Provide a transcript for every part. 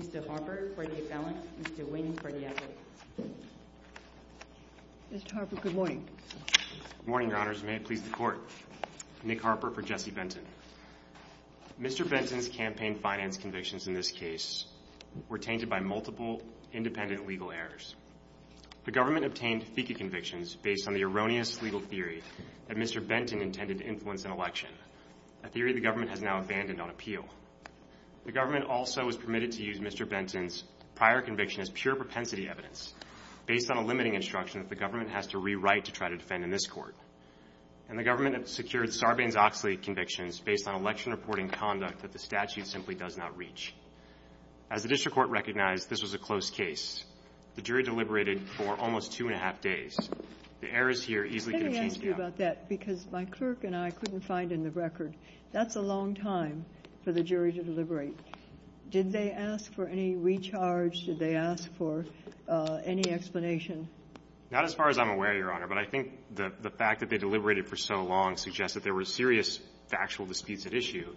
Mr. Harper for the affidavit, Mr. Wynne for the affidavit. Mr. Harper, good morning. Good morning, Your Honors. May it please the Court. Nick Harper for Jesse Benton. Mr. Benton's campaign finance convictions in this case were tainted by multiple independent legal errors. The government obtained FECA convictions based on the erroneous legal theory that Mr. Benton intended to influence an election, a theory the government has now abandoned on appeal. The government also was permitted to use Mr. Benton's prior conviction as pure propensity evidence based on a limiting instruction that the government has to rewrite to try to defend in this Court. And the government secured Sarbanes-Oxley convictions based on election reporting conduct that the statute simply does not reach. As the District Court recognized, this was a close case. The jury deliberated for almost two and a half days. The errors here easily could have changed the outcome. Let me ask you about that, because my clerk and I couldn't find in the record. That's a long time for the jury to deliberate. Did they ask for any recharge? Did they ask for any explanation? Not as far as I'm aware, Your Honor, but I think the fact that they deliberated for so long suggests that there were serious factual disputes at issue.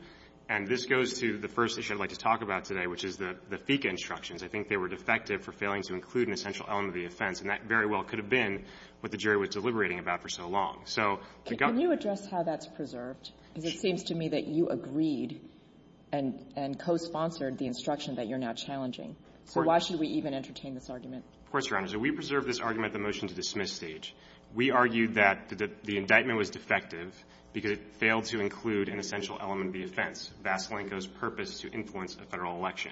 And this goes to the first issue I'd like to talk about today, which is the FECA instructions. I think they were defective for failing to include an essential element of the offense. And that very well could have been what the jury was deliberating about for so long. So the government ---- Kagan. Kagan. Kagan. Can you address how that's preserved? Because it seems to me that you agreed and cosponsored the instruction that you're So why should we even entertain this argument? Of course, Your Honor. So we preserved this argument at the motion-to-dismiss stage. We argued that the indictment was defective because it failed to include an essential element of the offense, Vasilenko's purpose to influence a Federal election.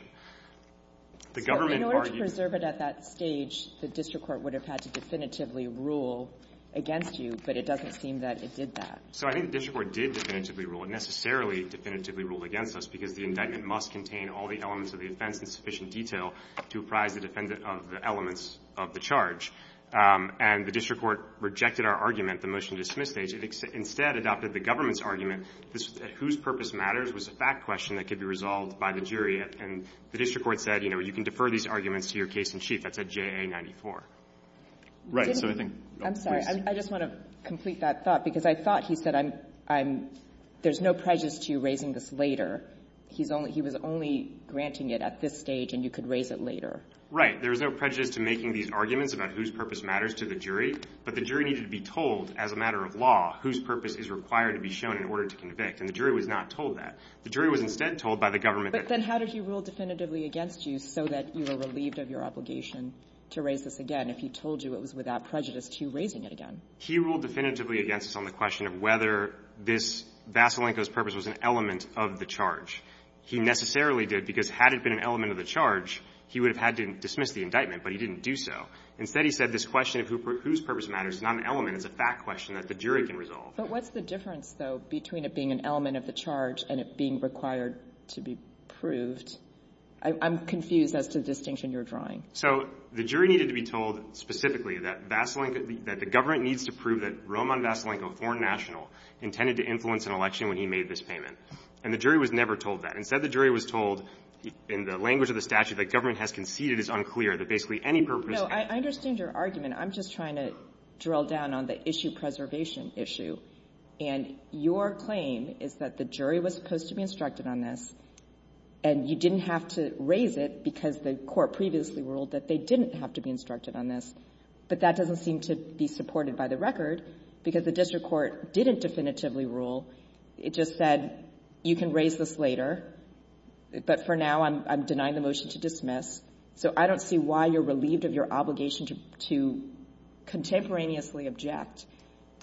The government argued ---- So in order to preserve it at that stage, the district court would have had to definitively rule against you, but it doesn't seem that it did that. So I think the district court did definitively rule, and necessarily definitively ruled against us, because the indictment must contain all the elements of the offense in sufficient detail to apprise the defendant of the elements of the charge. And the district court rejected our argument at the motion-to-dismiss stage. It instead adopted the government's argument that whose purpose matters was a fact question that could be resolved by the jury. And the district court said, you know, you can defer these arguments to your case in chief. That's at JA94. Right. So I think ---- I'm sorry. I just want to complete that thought, because I thought he said I'm ---- there's no prejudice to you raising this later. He's only ---- he was only granting it at this stage, and you could raise it later. Right. There was no prejudice to making these arguments about whose purpose matters to the jury. But the jury needed to be told as a matter of law whose purpose is required to be shown in order to convict. And the jury was not told that. The jury was instead told by the government that ---- But then how did he rule definitively against you so that you were relieved of your obligation to raise this again if he told you it was without prejudice to you raising it again? He ruled definitively against us on the question of whether this ---- Vasilenko's purpose was an element of the charge. He necessarily did, because had it been an element of the charge, he would have had to dismiss the indictment, but he didn't do so. Instead, he said this question of whose purpose matters is not an element. It's a fact question that the jury can resolve. But what's the difference, though, between it being an element of the charge and it being required to be proved? I'm confused as to the distinction you're drawing. So the jury needed to be told specifically that Vasilenko ---- that the government needs to prove that Roman Vasilenko, foreign national, intended to influence an election when he made this payment. And the jury was never told that. Instead, the jury was told in the language of the statute that government has conceded is unclear, that basically any purpose ---- I understand your argument. I'm just trying to drill down on the issue preservation issue. And your claim is that the jury was supposed to be instructed on this, and you didn't have to raise it because the Court previously ruled that they didn't have to be instructed on this, but that doesn't seem to be supported by the record because the district court didn't definitively rule. It just said you can raise this later, but for now, I'm denying the motion to dismiss. So I don't see why you're relieved of your obligation to contemporaneously object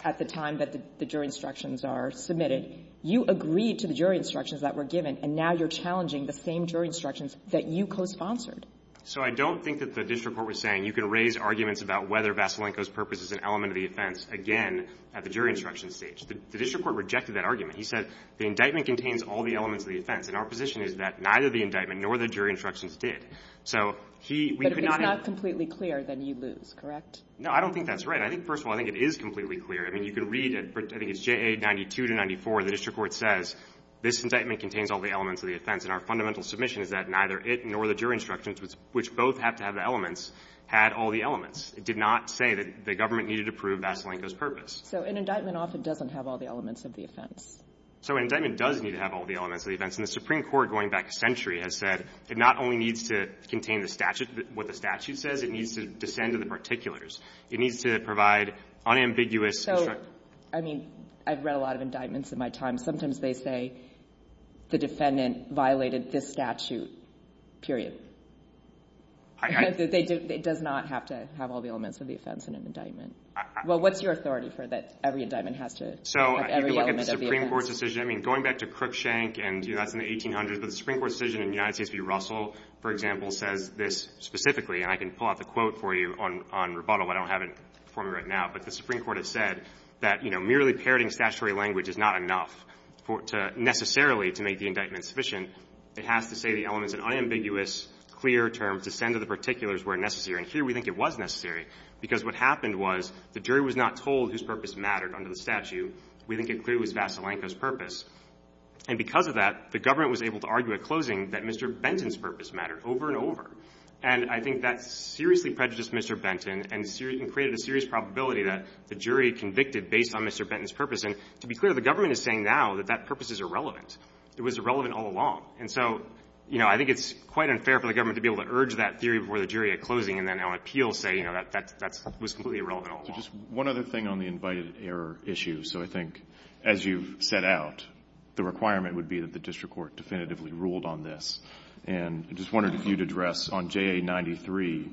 at the time that the jury instructions are submitted. You agreed to the jury instructions that were given, and now you're challenging the same jury instructions that you cosponsored. So I don't think that the district court was saying you can raise arguments about whether Vasilenko's purpose is an element of the offense, again, at the jury instruction stage. The district court rejected that argument. He said the indictment contains all the elements of the offense, and our position is that neither the indictment nor the jury instructions did. So he we could not have But if it's not completely clear, then you lose, correct? No, I don't think that's right. I think, first of all, I think it is completely clear. I mean, you can read it. I think it's JA 92 to 94. The district court says this indictment contains all the elements of the offense, and our fundamental submission is that neither it nor the jury instructions, which both have to have the elements, had all the elements. It did not say that the government needed to prove Vasilenko's purpose. So an indictment often doesn't have all the elements of the offense. So an indictment does need to have all the elements of the offense. And the Supreme Court, going back a century, has said it not only needs to contain the statute, what the statute says, it needs to descend to the particulars. It needs to provide unambiguous instruction. So, I mean, I've read a lot of indictments in my time. Sometimes they say the defendant violated this statute, period. It does not have to have all the elements of the offense in an indictment. Well, what's your authority for that every indictment has to have every element of the offense? I mean, going back to Crookshank and, you know, that's in the 1800s, the Supreme Court's decision in United States v. Russell, for example, says this specifically, and I can pull out the quote for you on rebuttal. I don't have it for me right now. But the Supreme Court has said that, you know, merely parroting statutory language is not enough to necessarily to make the indictment sufficient. It has to say the element is an unambiguous, clear term to send to the particulars where necessary. And here we think it was necessary, because what happened was the jury was not told whose purpose mattered under the statute. We think it clearly was Vasilenko's purpose. And because of that, the government was able to argue at closing that Mr. Benton's purpose mattered over and over. And I think that seriously prejudiced Mr. Benton and created a serious probability that the jury convicted based on Mr. Benton's purpose. And to be clear, the government is saying now that that purpose is irrelevant. It was irrelevant all along. And so, you know, I think it's quite unfair for the government to be able to urge that theory before the jury at closing and then on appeal say, you know, that that was completely irrelevant all along. Just one other thing on the invited error issue. So I think as you've set out, the requirement would be that the district court definitively ruled on this. And I just wondered if you'd address on JA93,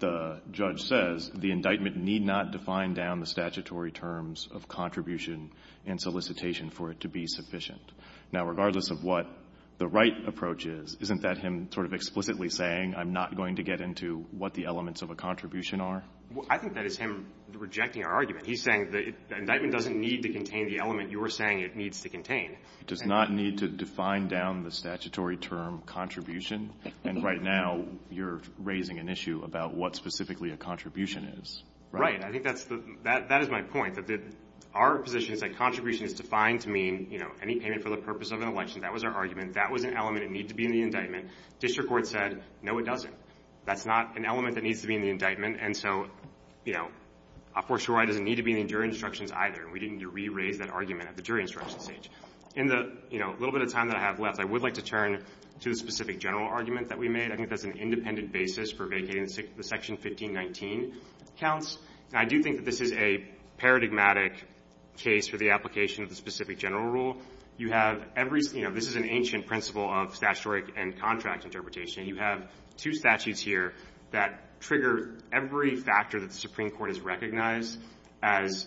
the judge says the indictment need not define down the statutory terms of contribution and solicitation for it to be sufficient. Now, regardless of what the right approach is, isn't that him sort of explicitly saying I'm not going to get into what the elements of a contribution are? Well, I think that is him rejecting our argument. He's saying the indictment doesn't need to contain the element you were saying it needs to contain. It does not need to define down the statutory term contribution. And right now, you're raising an issue about what specifically a contribution is. Right. I think that is my point, that our position is that contribution is defined to mean, you know, any payment for the purpose of an election. That was our argument. That was an element. It needs to be in the indictment. District court said, no, it doesn't. That's not an element that needs to be in the indictment. And so, you know, of course, your right doesn't need to be in the jury instructions either. And we didn't need to re-raise that argument at the jury instructions stage. In the, you know, little bit of time that I have left, I would like to turn to the specific general argument that we made. I think that's an independent basis for vacating the section 1519 counts. And I do think that this is a paradigmatic case for the application of the specific general rule. You have every, you know, this is an ancient principle of statutory and contract interpretation. You have two statutes here that trigger every factor that the Supreme Court has recognized as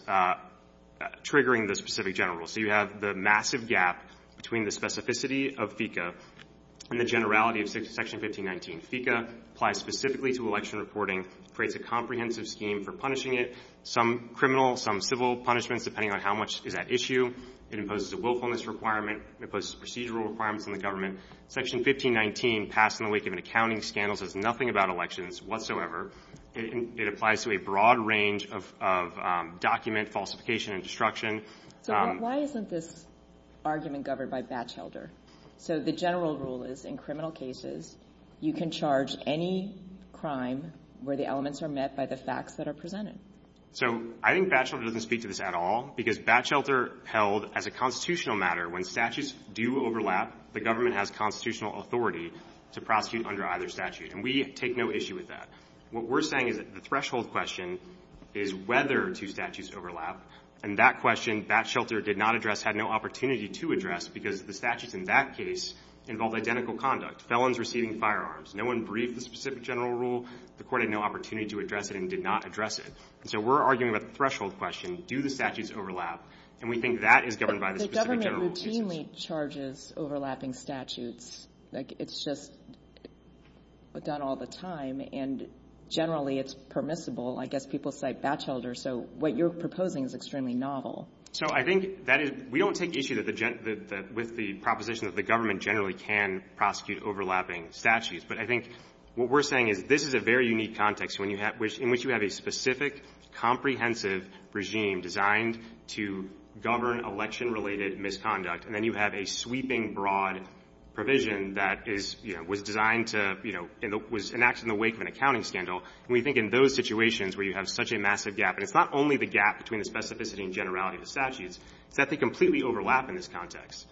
triggering the specific general rule. So you have the massive gap between the specificity of FECA and the generality of section 1519. FECA applies specifically to election reporting, creates a comprehensive scheme for punishing it. Some criminal, some civil punishments, depending on how much is at issue. It imposes a willfulness requirement. It imposes procedural requirements on the government. Section 1519 passed in the wake of an accounting scandal says nothing about elections whatsoever. It applies to a broad range of document falsification and destruction. So why isn't this argument governed by Batchelder? So the general rule is in criminal cases, you can charge any crime where the elements are met by the facts that are presented. So I think Batchelder doesn't speak to this at all because Batchelder held as a constitutional matter when statutes do overlap, the government has constitutional authority to prosecute under either statute. And we take no issue with that. What we're saying is that the threshold question is whether two statutes overlap. And that question Batchelder did not address, had no opportunity to address because the statutes in that case involved identical conduct, felons receiving firearms. No one briefed the specific general rule. The Court had no opportunity to address it and did not address it. So we're arguing about the threshold question. Do the statutes overlap? And we think that is governed by the specific general rule. But the government routinely charges overlapping statutes. Like, it's just done all the time, and generally it's permissible. I guess people cite Batchelder. So what you're proposing is extremely novel. So I think that is we don't take issue with the proposition that the government generally can prosecute overlapping statutes. But I think what we're saying is this is a very unique context in which you have a specific, comprehensive regime designed to govern election-related misconduct. And then you have a sweeping, broad provision that is, you know, was designed to, you know, was enacted in the wake of an accounting scandal. And we think in those situations where you have such a massive gap, and it's not only the gap between the specificity and generality of the statutes, it's that they completely overlap in this context.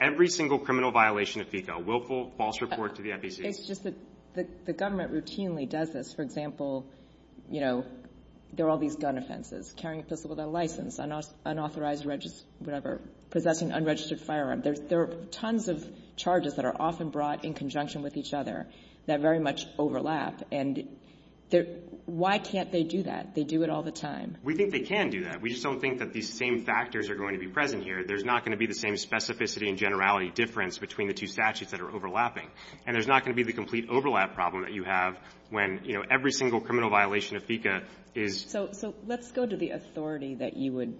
Every single criminal violation of FECA, willful false report to the FECA. It's just that the government routinely does this. For example, you know, there are all these gun offenses, carrying a pistol without a license, unauthorized whatever, possessing unregistered firearms. There are tons of charges that are often brought in conjunction with each other that very much overlap. And why can't they do that? They do it all the time. We think they can do that. We just don't think that these same factors are going to be present here. There's not going to be the same specificity and generality difference between the two statutes that are overlapping. And there's not going to be the complete overlap problem that you have when, you know, every single criminal violation of FECA is — So let's go to the authority that you would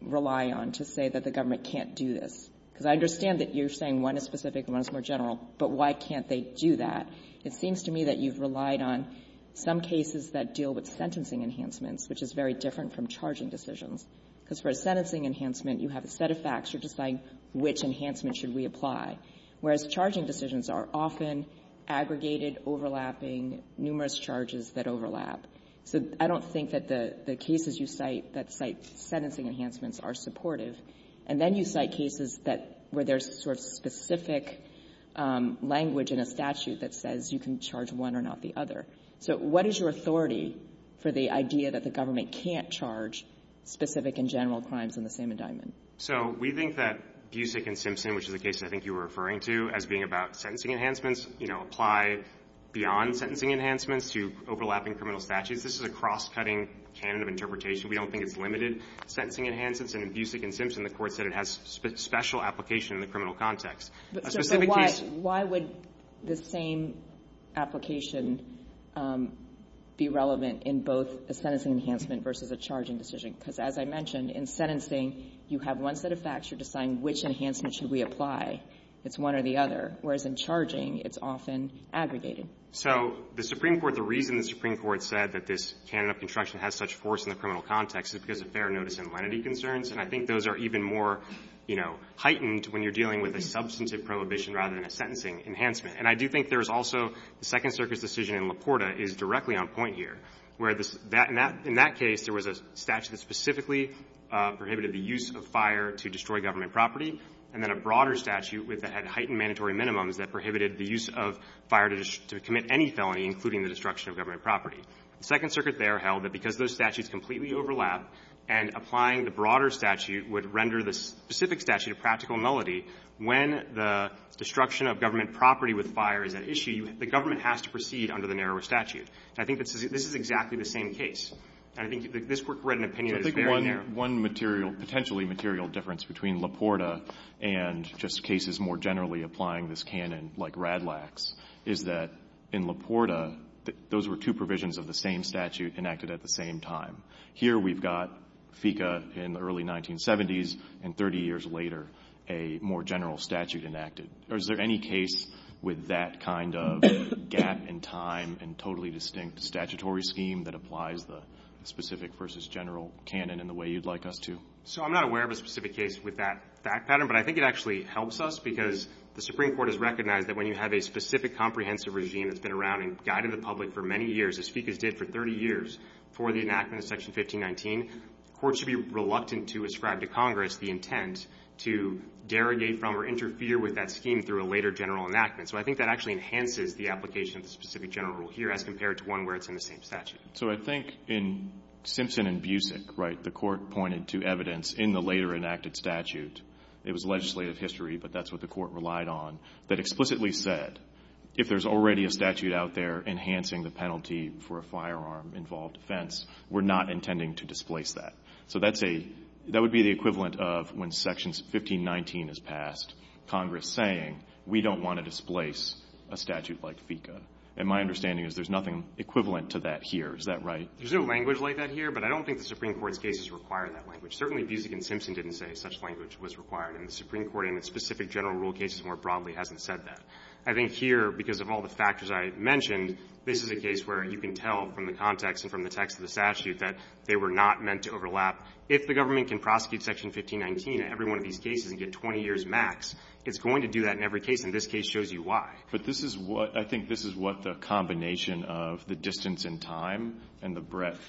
rely on to say that the government can't do this, because I understand that you're saying one is specific and one is more general, but why can't they do that? It seems to me that you've relied on some cases that deal with sentencing enhancements, which is very different from charging decisions. Because for a sentencing enhancement, you have a set of facts. You're charging decisions are often aggregated, overlapping, numerous charges that overlap. So I don't think that the cases you cite that cite sentencing enhancements are supportive. And then you cite cases that — where there's sort of specific language in a statute that says you can charge one or not the other. So what is your authority for the idea that the government can't charge specific and general crimes in the same indictment? So we think that Busick and Simpson, which is the case I think you were referring to as being about sentencing enhancements, you know, apply beyond sentencing enhancements to overlapping criminal statutes. This is a cross-cutting canon of interpretation. We don't think it's limited sentencing enhancements. And in Busick and Simpson, the Court said it has special application in the criminal context. So why would the same application be relevant in both a sentencing enhancement versus a charging decision? Because as I mentioned, in sentencing, you have one set of facts. You're deciding which enhancement should we apply. It's one or the other. Whereas in charging, it's often aggregated. So the Supreme Court — the reason the Supreme Court said that this canon of construction has such force in the criminal context is because of fair notice and lenity concerns. And I think those are even more, you know, heightened when you're dealing with a substantive prohibition rather than a sentencing enhancement. And I do think there's also — the Second Circuit's decision in Laporta is directly on point here, where the — that — in that case, there was a statute that specifically prohibited the use of fire to destroy government property, and then a broader statute with — that had heightened mandatory minimums that prohibited the use of fire to — to commit any felony, including the destruction of government property. The Second Circuit there held that because those statutes completely overlap, and applying the broader statute would render the specific statute a practical nullity when the destruction of government property with fire is at issue, the government has to proceed under the narrower statute. And I think this is exactly the same case. And I think this Court read an opinion that is very narrow. So I think one — one material — potentially material difference between Laporta and just cases more generally applying this canon, like Radlax, is that in Laporta, those were two provisions of the same statute enacted at the same time. Here, we've got FICA in the early 1970s, and 30 years later, a more general statute enacted. Or is there any case with that kind of difference? A gap in time and totally distinct statutory scheme that applies the specific versus general canon in the way you'd like us to? So I'm not aware of a specific case with that fact pattern, but I think it actually helps us because the Supreme Court has recognized that when you have a specific comprehensive regime that's been around and guided the public for many years, as FICA's did for 30 years, for the enactment of Section 1519, courts should be reluctant to ascribe to Congress the intent to derogate from or interfere with that scheme through a later general enactment. So I think that actually enhances the application of the specific general rule here as compared to one where it's in the same statute. So I think in Simpson and Busick, right, the Court pointed to evidence in the later enacted statute — it was legislative history, but that's what the Court relied on — that explicitly said, if there's already a statute out there enhancing the penalty for a firearm-involved offense, we're not intending to displace that. So that's a — that would be the equivalent of when Section 1519 is passed, Congress is saying, we don't want to displace a statute like FICA. And my understanding is there's nothing equivalent to that here. Is that right? There's no language like that here, but I don't think the Supreme Court's cases require that language. Certainly, Busick and Simpson didn't say such language was required, and the Supreme Court, in its specific general rule cases more broadly, hasn't said that. I think here, because of all the factors I mentioned, this is a case where you can tell from the context and from the text of the statute that they were not meant to overlap. If the government can prosecute Section 1519 in every one of these cases and get 20 years max, it's going to do that in every case, and this case shows you why. But this is what — I think this is what the combination of the distance in time and the breadth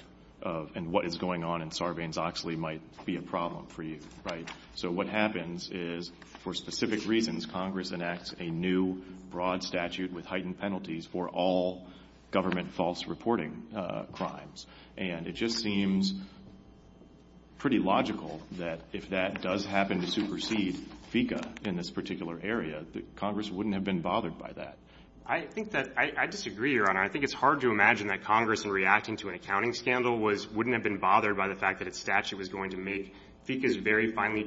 of — and what is going on in Sarbanes-Oxley might be a problem for you, right? So what happens is, for specific reasons, Congress enacts a new, broad statute with heightened penalties for all government false reporting crimes. And it just seems pretty logical that if that does happen to supersede FICA in this particular area, that Congress wouldn't have been bothered by that. I think that — I disagree, Your Honor. I think it's hard to imagine that Congress, in reacting to an accounting scandal, was — wouldn't have been bothered by the fact that its statute was going to make FICA's very finely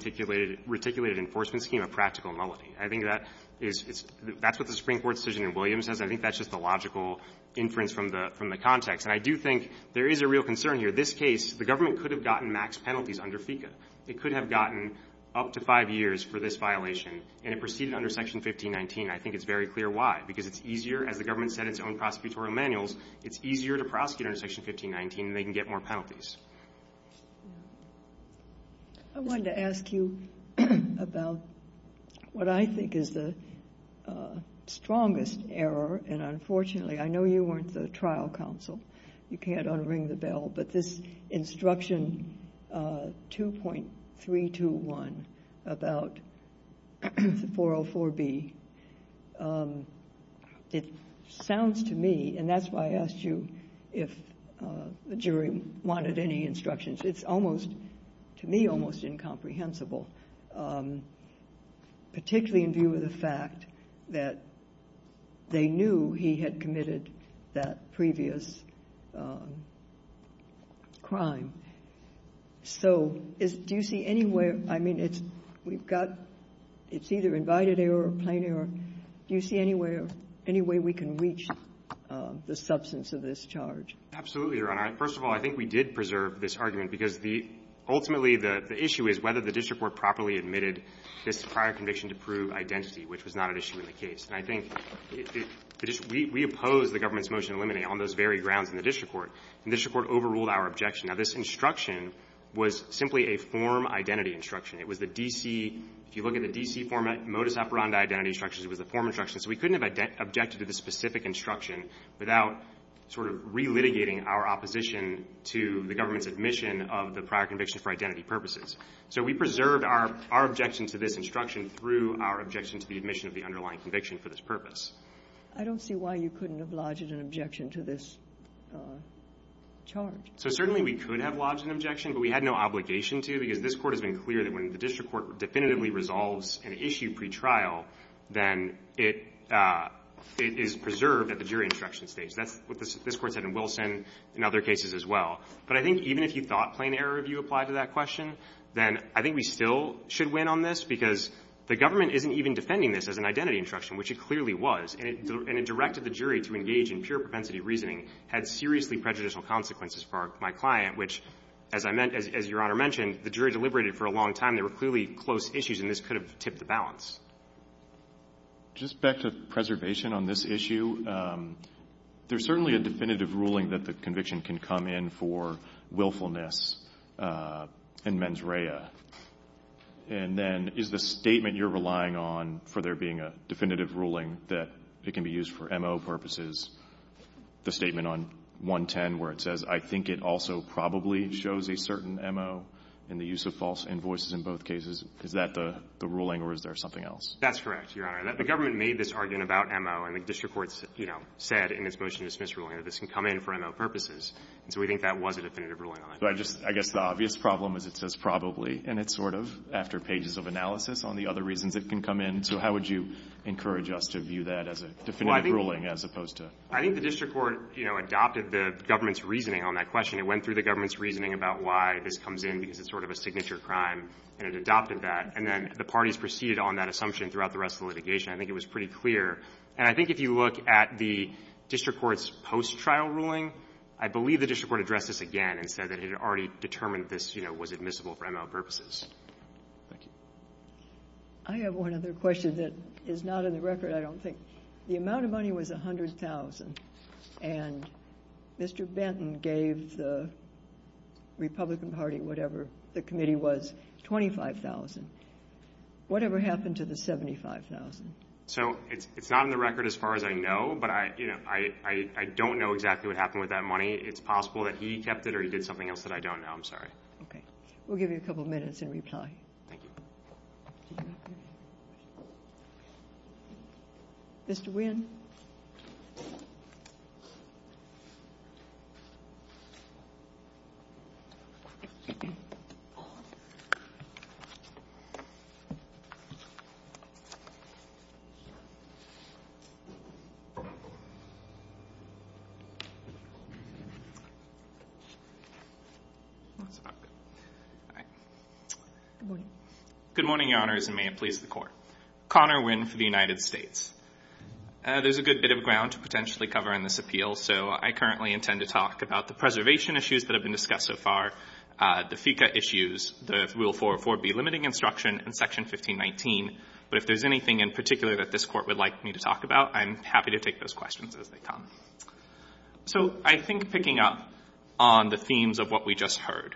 reticulated enforcement scheme a practical nullity. I think that is — that's what the Supreme Court's decision in Williams says. I think that's just the logical inference from the context. And I do think there is a real concern here. This case, the government could have gotten max penalties under FICA. It could have gotten up to five years for this violation. And it proceeded under Section 1519. I think it's very clear why. Because it's easier — as the government set its own prosecutorial manuals, it's easier to prosecute under Section 1519, and they can get more penalties. I wanted to ask you about what I think is the strongest error. And unfortunately, I know you weren't the trial counsel. You can't unring the bell. But this instruction 2.321 about 404B, it sounds to me — and that's why I asked you if the jury wanted any instructions. It's almost — to me, almost incomprehensible, particularly in view of the fact that they knew he had committed that previous crime. So do you see any way — I mean, it's — we've got — it's either invited error or plain error. Do you see any way — any way we can reach the substance of this charge? Absolutely, Your Honor. First of all, I think we did preserve this argument because the — ultimately, the issue is whether the district court properly admitted this prior conviction to prove identity, which was not an issue in the case. And I think it — we opposed the government's motion to eliminate on those very grounds in the district court, and the district court overruled our objection. Now, this instruction was simply a form identity instruction. It was the D.C. — if you look at the D.C. format, modus operandi identity instructions, it was a form instruction. So we couldn't have objected to the specific instruction without sort of relitigating our opposition to the government's admission of the prior conviction for identity purposes. So we preserved our — our objection to this instruction through our objection to the admission of the underlying conviction for this purpose. I don't see why you couldn't have lodged an objection to this charge. So certainly, we could have lodged an objection, but we had no obligation to, because this Court has been clear that when the district court definitively resolves an issue pretrial, then it — it is preserved at the jury instruction stage. That's what this Court said in Wilson, in other cases as well. But I think even if you thought plain error review applied to that question, then I think we still should win on this, because the government isn't even defending this as an identity instruction, which it clearly was. And it — and it directed the jury to engage in pure propensity reasoning had seriously prejudicial consequences for our — my client, which, as I meant — as Your Honor mentioned, the jury deliberated for a long time. There were clearly close issues, and this could have tipped the balance. Just back to preservation on this issue, there's certainly a definitive ruling that the conviction can come in for willfulness and mens rea. And then is the statement you're relying on for there being a definitive ruling that it can be used for MO purposes, the statement on 110 where it says, I think it also probably shows a certain MO in the use of false invoices in both cases, is that the ruling or is there something else? That's correct, Your Honor. The government made this argument about MO, and the district court, you know, said in its motion-to-dismiss ruling that this can come in for MO purposes. And so we think that was a definitive ruling on that. But I just — I guess the obvious problem is it says probably, and it's sort of after pages of analysis on the other reasons it can come in. So how would you encourage us to view that as a definitive ruling as opposed to — Well, I think — I think the district court, you know, adopted the government's reasoning on that question. It went through the government's reasoning about why this comes in, because it's sort of a signature crime, and it adopted that. And then the parties proceeded on that assumption throughout the rest of the litigation. I think it was pretty clear. And I think if you look at the district court's post-trial ruling, I believe the district court addressed this again and said that it had already determined this, you know, was admissible for MO purposes. Thank you. I have one other question that is not in the record, I don't think. The amount of money was $100,000, and Mr. Benton gave the Republican Party, whatever the committee was, $25,000. Whatever happened to the $75,000? So it's not in the record as far as I know, but I — you know, I don't know exactly what happened with that money. It's possible that he kept it or he did something else that I don't know. I'm sorry. Okay. We'll give you a couple minutes in reply. Thank you. Mr. Wynn. Good morning, Your Honors, and may it please the Court. Connor Wynn for the United States. There's a good bit of ground to potentially cover in this appeal, so I currently intend to talk about the preservation issues that have been discussed so far, the FICA issues, the Rule 404B limiting instruction, and Section 1519. But if there's anything in particular that this Court would like me to talk about, I'm happy to take those questions as they come. So I think picking up on the themes of what we just heard,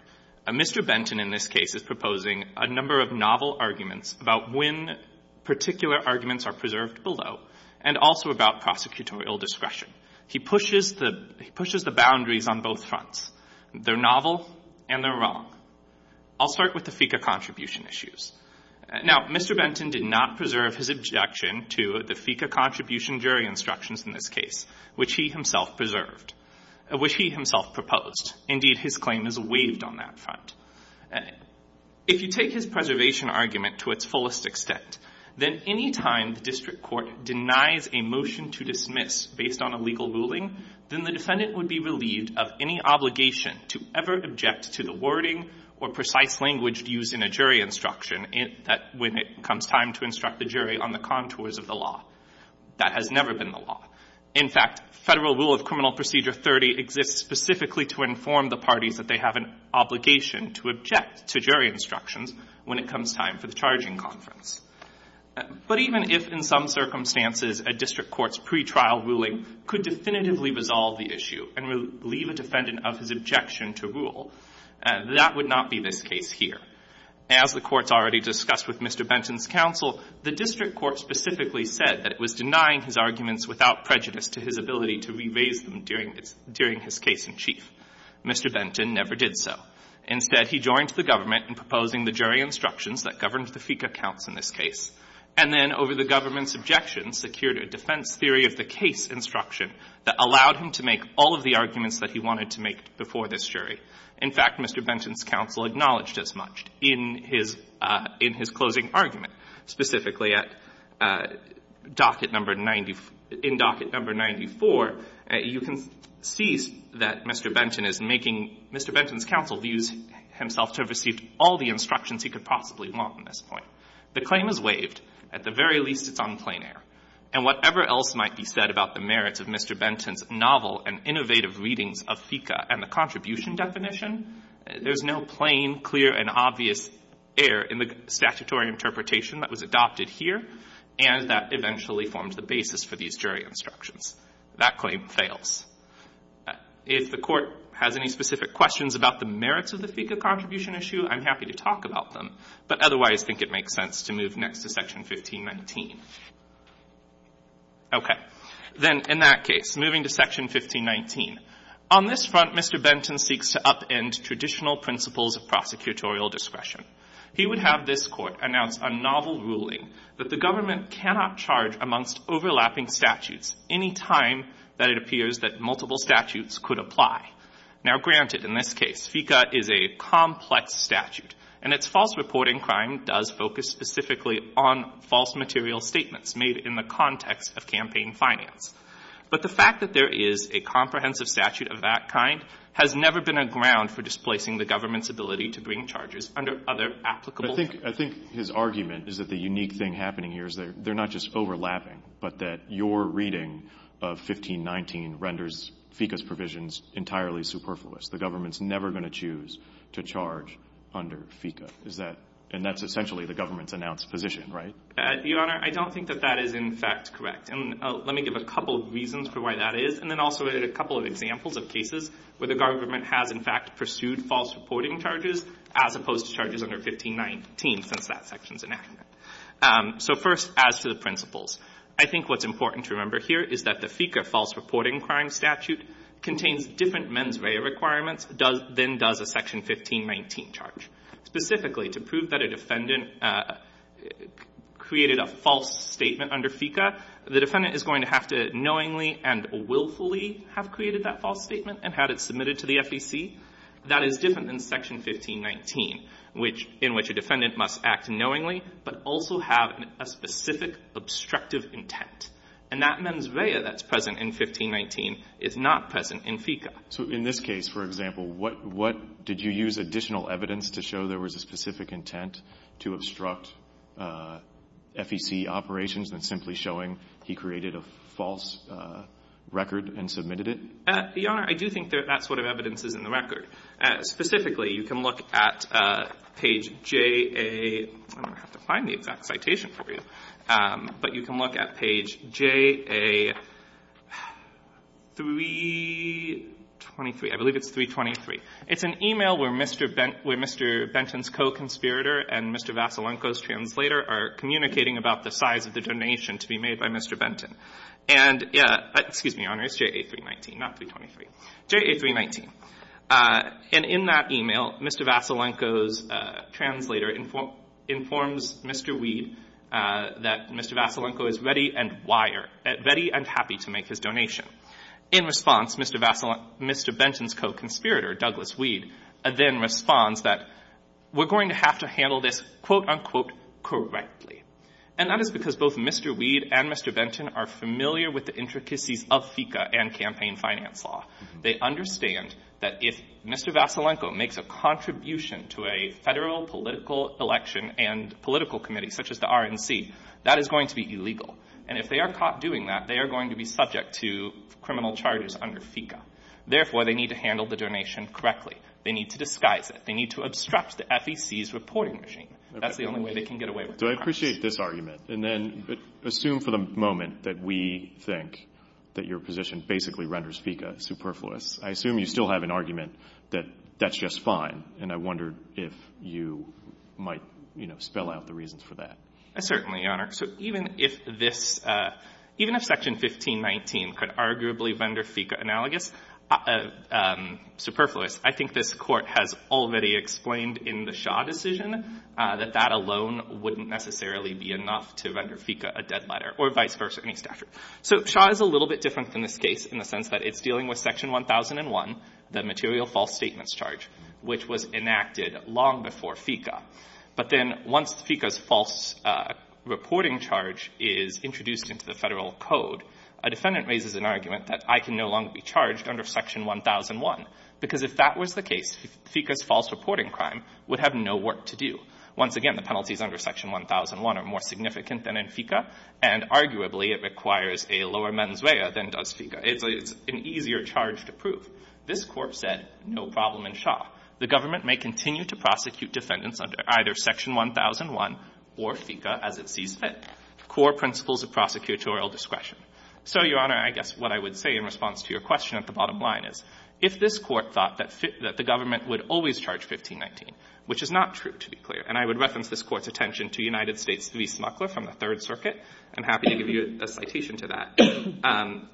Mr. Benton in this case is proposing a number of novel arguments about when particular arguments are preserved below, and also about prosecutorial discretion. He pushes the — he pushes the boundaries on both fronts. They're novel, and they're wrong. I'll start with the FICA contribution issues. Now, Mr. Benton did not preserve his objection to the FICA contribution jury instructions in this case, which he himself preserved — which he himself proposed. Indeed, his claim is waived on that front. If you take his preservation argument to its fullest extent, then any time the district court denies a motion to dismiss based on a legal ruling, then the In fact, Federal Rule of Criminal Procedure 30 exists specifically to inform the parties that they have an obligation to object to jury instructions when it comes time for the charging conference. But even if, in some circumstances, a district court's pretrial ruling could definitively resolve the issue and leave a defendant of his objection to rule, that would not be this case here. As the Court's already discussed with Mr. Benton's counsel, the district court specifically said that it was denying his arguments without prejudice to his ability to re-raise them during his case in chief. Mr. Benton never did so. Instead, he joined the government in proposing the jury instructions that governed the FICA counts in this case, and then, over the government's objections, secured a defense theory of the case instruction that allowed him to make all of the arguments that he wanted to make before this jury. In fact, Mr. Benton's counsel acknowledged as much in his closing argument. Specifically, in docket number 94, you can see that Mr. Benton is making Mr. Benton's counsel use himself to have received all the instructions he could possibly want at this point. The claim is waived. At the very least, it's on plain air. And whatever else might be said about the merits of Mr. Benton's novel and innovative readings of FICA and the contribution definition, there's no plain, clear, and obvious error in the statutory interpretation that was adopted here, and that eventually formed the basis for these jury instructions. That claim fails. If the Court has any specific questions about the merits of the FICA contribution issue, I'm happy to talk about them, but otherwise think it makes sense to move next to Section 1519. Okay. Then, in that case, moving to Section 1519, on this front, Mr. Benton seeks to upend traditional principles of prosecutorial discretion. He would have this Court announce a novel ruling that the government cannot charge amongst overlapping statutes any time that it appears that multiple statutes could apply. Now, granted, in this case, FICA is a complex statute, and its false reporting crime does focus specifically on false material statements made in the context of campaign finance. But the fact that there is a comprehensive statute of that kind has never been a ground for displacing the government's ability to bring charges under other applicable to it. I think his argument is that the unique thing happening here is that they're not just overlapping, but that your reading of 1519 renders FICA's provisions entirely superfluous. The government's never going to choose to charge under FICA. Is that — and that's essentially the government's announced position, right? Your Honor, I don't think that that is, in fact, correct. And let me give a couple of reasons for why that is, and then also a couple of examples of cases where the government has, in fact, pursued false reporting charges as opposed to charges under 1519, since that section's enacted. So, first, as to the principles, I think what's important to remember here is that the FICA false reporting crime statute contains different mens rea requirements than does a Section 1519 charge, specifically to prove that a defendant created a false statement under FICA. The defendant is going to have to knowingly and willfully have created that false statement and had it submitted to the FEC. That is different than Section 1519, which — in which a defendant must act knowingly but also have a specific obstructive intent. And that mens rea that's present in 1519 is not present in FICA. So in this case, for example, what — what — did you use additional evidence to show there was a specific intent to obstruct FEC operations than simply showing he created a false record and submitted it? Your Honor, I do think that that's what our evidence is in the record. Specifically, you can look at page J.A. — I'm going to have to find the exact citation for you — but you can look at page J.A. 323. I believe it's 323. It's an email where Mr. Benton's co-conspirator and Mr. Vassilenko's translator are communicating about the size of the donation to be made by Mr. Benton. And — excuse me, Your Honor, it's J.A. 319, not 323 — J.A. 319. And in that email, Mr. Vassilenko's translator informs Mr. Weed that Mr. Vassilenko is ready and wire — ready and happy to make his donation. In response, Mr. Vassilen — Mr. Benton's co-conspirator, Douglas Weed, then responds that we're going to have to handle this, quote-unquote, correctly. And that is because both Mr. Weed and Mr. Benton are familiar with the intricacies of FECA and campaign finance law. They understand that if Mr. Vassilenko makes a contribution to a federal political election and political committee, such as the RNC, that is going to be illegal. And if they are caught doing that, they are going to be subject to criminal charges under FECA. Therefore, they need to handle the donation correctly. They need to disguise it. They need to obstruct the FEC's reporting machine. That's the only way they can get away with crimes. Okay. So I appreciate this argument. And then assume for the moment that we think that your position basically renders FECA superfluous. I assume you still have an argument that that's just fine. And I wondered if you might, you know, spell out the reasons for that. Certainly, Your Honor. So even if this, even if Section 1519 could arguably render FECA analogous, superfluous, I think this Court has already explained in the Shaw decision that that alone wouldn't necessarily be enough to render FECA a dead letter, or vice versa, any statute. So Shaw is a little bit different from this case in the sense that it's dealing with Section 1001, the material false statements charge, which was enacted long before FECA. But then once FECA's false reporting charge is introduced into the Federal Code, a defendant raises an argument that I can no longer be charged under Section 1001. Because if that was the case, FECA's false reporting crime would have no work to do. Once again, the penalties under Section 1001 are more significant than in FECA, and arguably it requires a lower mens rea than does FECA. It's an easier charge to prove. This Court said no problem in Shaw. The government may continue to prosecute defendants under either Section 1001 or FECA as it sees fit, core principles of prosecutorial discretion. So, Your Honor, I guess what I would say in response to your question at the bottom line is, if this Court thought that the government would always charge 1519, which is not true, to be clear, and I would reference this Court's attention to United States v. Smuckler from the Third Circuit, I'm happy to give you a citation to that.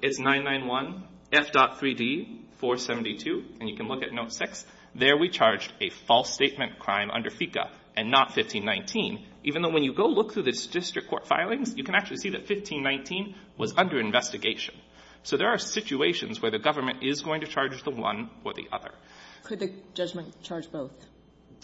It's 991 F.3d.472, and you can look at Note 6. There we charged a false statement crime under FECA and not 1519, even though when you go look through the district court filings, you can actually see that 1519 was under investigation. So there are situations where the government is going to charge the one or the other. Could the judgment charge both?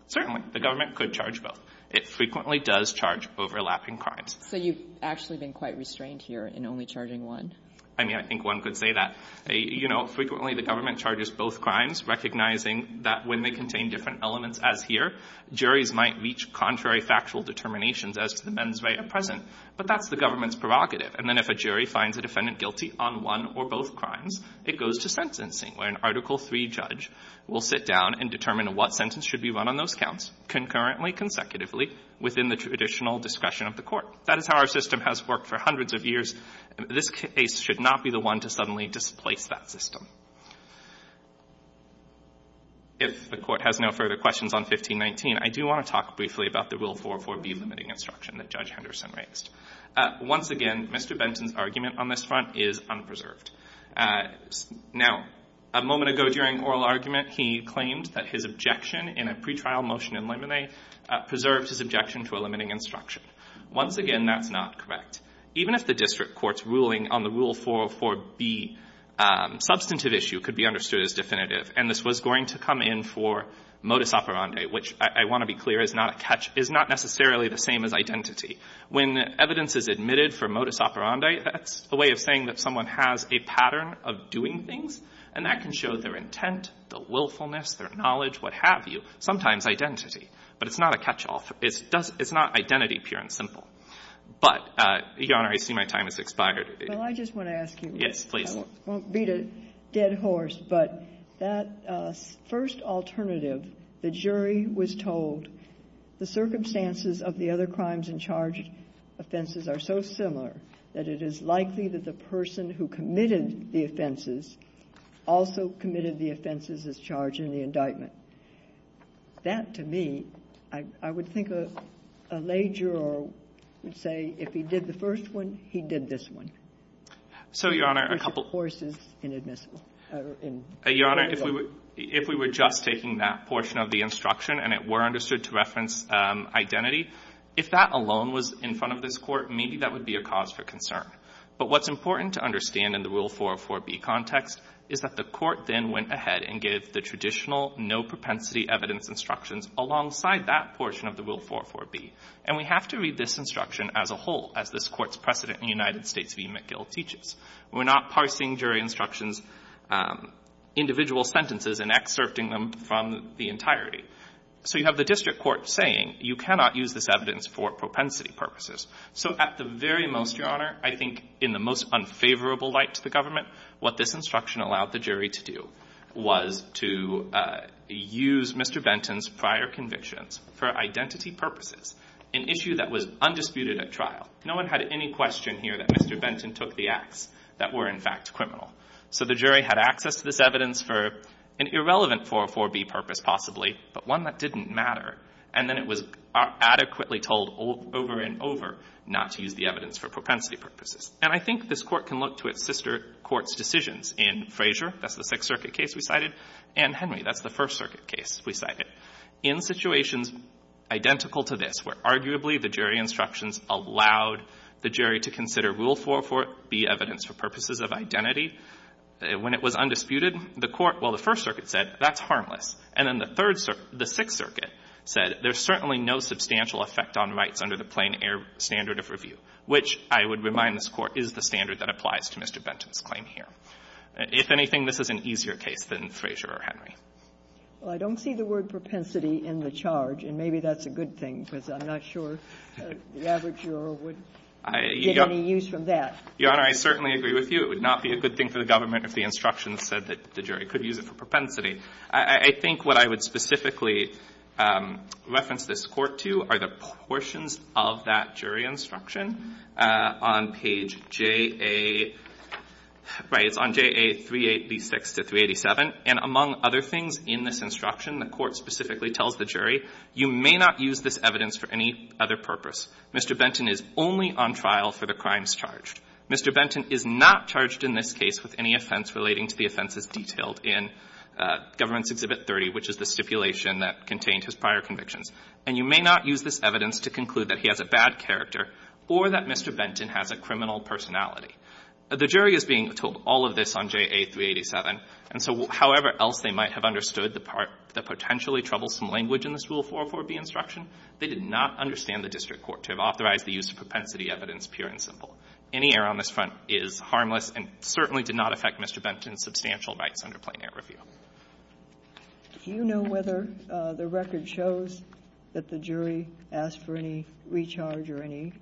Certainly. The government could charge both. It frequently does charge overlapping crimes. So you've actually been quite restrained here in only charging one? I mean, I think one could say that. You know, frequently the government charges both crimes, recognizing that when they contain different elements, as here, juries might reach contrary factual determinations as to the men's right at present. But that's the government's prerogative. And then if a jury finds a defendant guilty on one or both crimes, it goes to sentencing, where an Article III judge will sit down and determine what sentence should be run on those counts concurrently, consecutively, within the traditional discretion of the Court. That is how our system has worked for hundreds of years. This case should not be the one to suddenly displace that system. If the Court has no further questions on 1519, I do want to talk briefly about the Rule 404B limiting instruction that Judge Henderson raised. Once again, Mr. Benton's argument on this front is unpreserved. Now, a moment ago during oral argument, he claimed that his objection in a pretrial motion in limine preserved his objection to a limiting instruction. Once again, that's not correct. Even if the district court's ruling on the Rule 404B substantive issue could be understood as definitive, and this was going to come in for modus operandi, which I want to be clear is not a catch, is not necessarily the same as identity. When evidence is admitted for modus operandi, that's a way of saying that someone has a pattern of doing things. And that can show their intent, their willfulness, their knowledge, what have you, sometimes identity. But it's not a catch-all. It's not identity, pure and simple. But, Your Honor, I see my time has expired. Well, I just want to ask you. Yes, please. I won't beat a dead horse, but that first alternative, the jury was told the circumstances of the other crimes and charged offenses are so similar that it is likely that the person who committed the offenses also committed the offenses as charged in the indictment. That, to me, I would think a lager or say if he did the first one, he did this one. So, Your Honor, a couple of courses in admissible or in legal. Your Honor, if we were just taking that portion of the instruction and it were understood to reference identity, if that alone was in front of this Court, maybe that would be a cause for concern. But what's important to understand in the Rule 404B context is that the Court then went ahead and gave the traditional no propensity evidence instructions alongside that portion of the Rule 404B. And we have to read this instruction as a whole, as this Court's precedent in the United States v. McGill teaches. We're not parsing jury instructions, individual sentences, and excerpting them from the entirety. So you have the district court saying you cannot use this evidence for propensity purposes. So at the very most, Your Honor, I think in the most unfavorable light to the government, what this instruction allowed the jury to do. Was to use Mr. Benton's prior convictions for identity purposes, an issue that was undisputed at trial. No one had any question here that Mr. Benton took the acts that were, in fact, criminal. So the jury had access to this evidence for an irrelevant 404B purpose, possibly, but one that didn't matter. And then it was adequately told over and over not to use the evidence for propensity purposes. And I think this Court can look to its sister courts' decisions in Frazier, that's the Sixth Circuit case we cited, and Henry, that's the First Circuit case we cited. In situations identical to this, where arguably the jury instructions allowed the jury to consider Rule 404B evidence for purposes of identity, when it was undisputed, the Court or the First Circuit said, that's harmless. And then the Third Circuit, the Sixth Circuit said, there's certainly no substantial effect on rights under the plain air standard of review, which, I would remind this Court, is the standard that applies to Mr. Benton's claim here. If anything, this is an easier case than Frazier or Henry. Well, I don't see the word propensity in the charge, and maybe that's a good thing, because I'm not sure the average juror would get any use from that. Your Honor, I certainly agree with you. It would not be a good thing for the government if the instructions said that the jury could use it for propensity. I think what I would specifically reference this Court to are the portions of that Mr. Benton is only on trial for the crimes charged. Mr. Benton is not charged in this case with any offense relating to the offenses detailed in Government's Exhibit 30, which is the stipulation that contained his prior convictions. And you may not use this evidence to conclude that he has a bad character or that Mr. Benton has a criminal personality. The jury is being told all of this on JA-387, and so however else they might have understood the part that potentially troubles some language in this Rule 404-B instruction, they did not understand the district court to have authorized the use of propensity evidence, pure and simple. Any error on this front is harmless and certainly did not affect Mr. Benton's substantial rights under plain-air review. Do you know whether the record shows that the jury asked for any recharge or any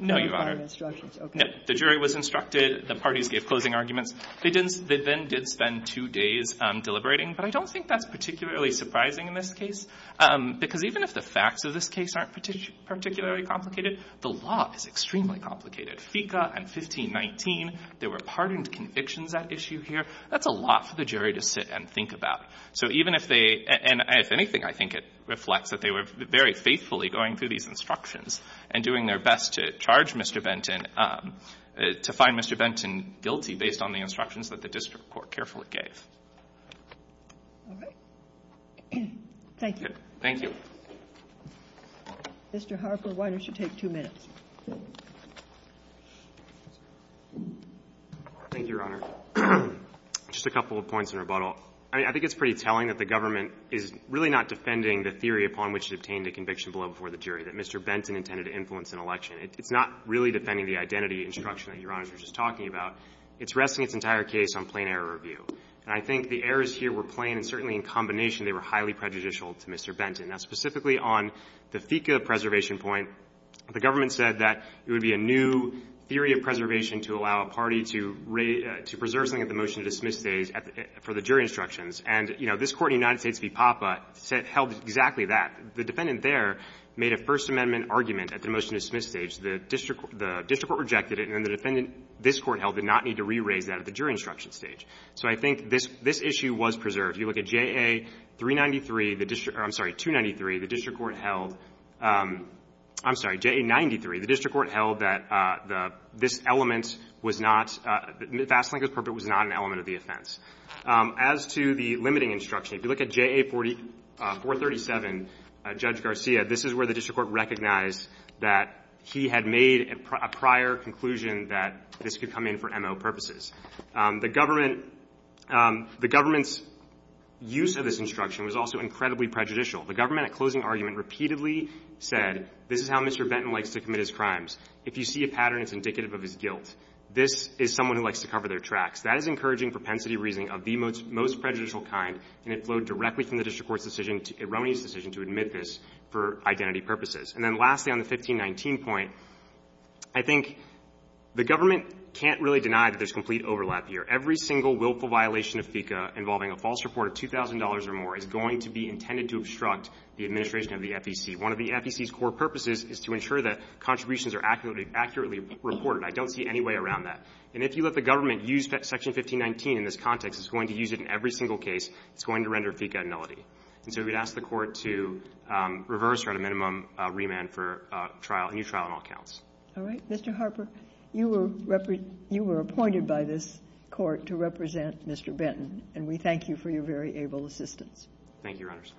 notifying instructions? The jury was instructed, the parties gave closing arguments. They then did spend two days deliberating, but I don't think that's particularly surprising in this case, because even if the facts of this case aren't particularly complicated, the law is extremely complicated. FICA and 1519, there were pardoned convictions at issue here. That's a lot for the jury to sit and think about. So even if they — and if anything, I think it reflects that they were very faithfully going through these instructions and doing their best to charge Mr. Benton, to find Mr. Benton guilty based on the instructions that the district court carefully gave. All right. Thank you. Thank you. Mr. Harper, why don't you take two minutes? Thank you, Your Honor. Just a couple of points in rebuttal. I mean, I think it's pretty telling that the government is really not defending the theory upon which it obtained a conviction below before the jury, that Mr. Benton intended to influence an election. It's not really defending the identity instruction that Your Honor was just talking about. It's resting its entire case on plain error review. And I think the errors here were plain, and certainly in combination, they were highly prejudicial to Mr. Benton. Now, specifically on the FICA preservation point, the government said that it would be a new theory of preservation to allow a party to preserve something at the motion-to-dismiss stage for the jury instructions. And, you know, this Court in the United States v. PAPA held exactly that. The defendant there made a First Amendment argument at the motion-to-dismiss stage. The district court rejected it, and then the defendant this Court held did not need to re-raise that at the jury instruction stage. So I think this issue was preserved. If you look at JA-393, the district – I'm sorry, 293, the district court held – I'm sorry, JA-93, the district court held that this element was not – the vast length of the purport was not an element of the offense. As to the limiting instruction, if you look at JA-437, Judge Garcia, this is where the district court recognized that he had made a prior conclusion that this could come in for MO purposes. The government – the government's use of this instruction was also incredibly prejudicial. The government, at closing argument, repeatedly said, this is how Mr. Benton likes to commit his crimes. If you see a pattern, it's indicative of his guilt. This is someone who likes to cover their tracks. That is encouraging propensity reasoning of the most prejudicial kind, and it flowed directly from the district court's decision to – Roney's decision to admit this for identity purposes. And then lastly, on the 1519 point, I think the government can't really deny that there's complete overlap here. Every single willful violation of FICA involving a false report of $2,000 or more is going to be intended to obstruct the administration of the FEC. One of the FEC's core purposes is to ensure that contributions are accurately reported. I don't see any way around that. And if you let the government use Section 1519 in this context, it's going to use it in every single case. It's going to render FICA a nullity. And so we'd ask the Court to reverse or, at a minimum, remand for trial – a new trial on all counts. All right. Mr. Harper, you were – you were appointed by this Court to represent Mr. Benton, and we thank you for your very able assistance. Thank you, Your Honors.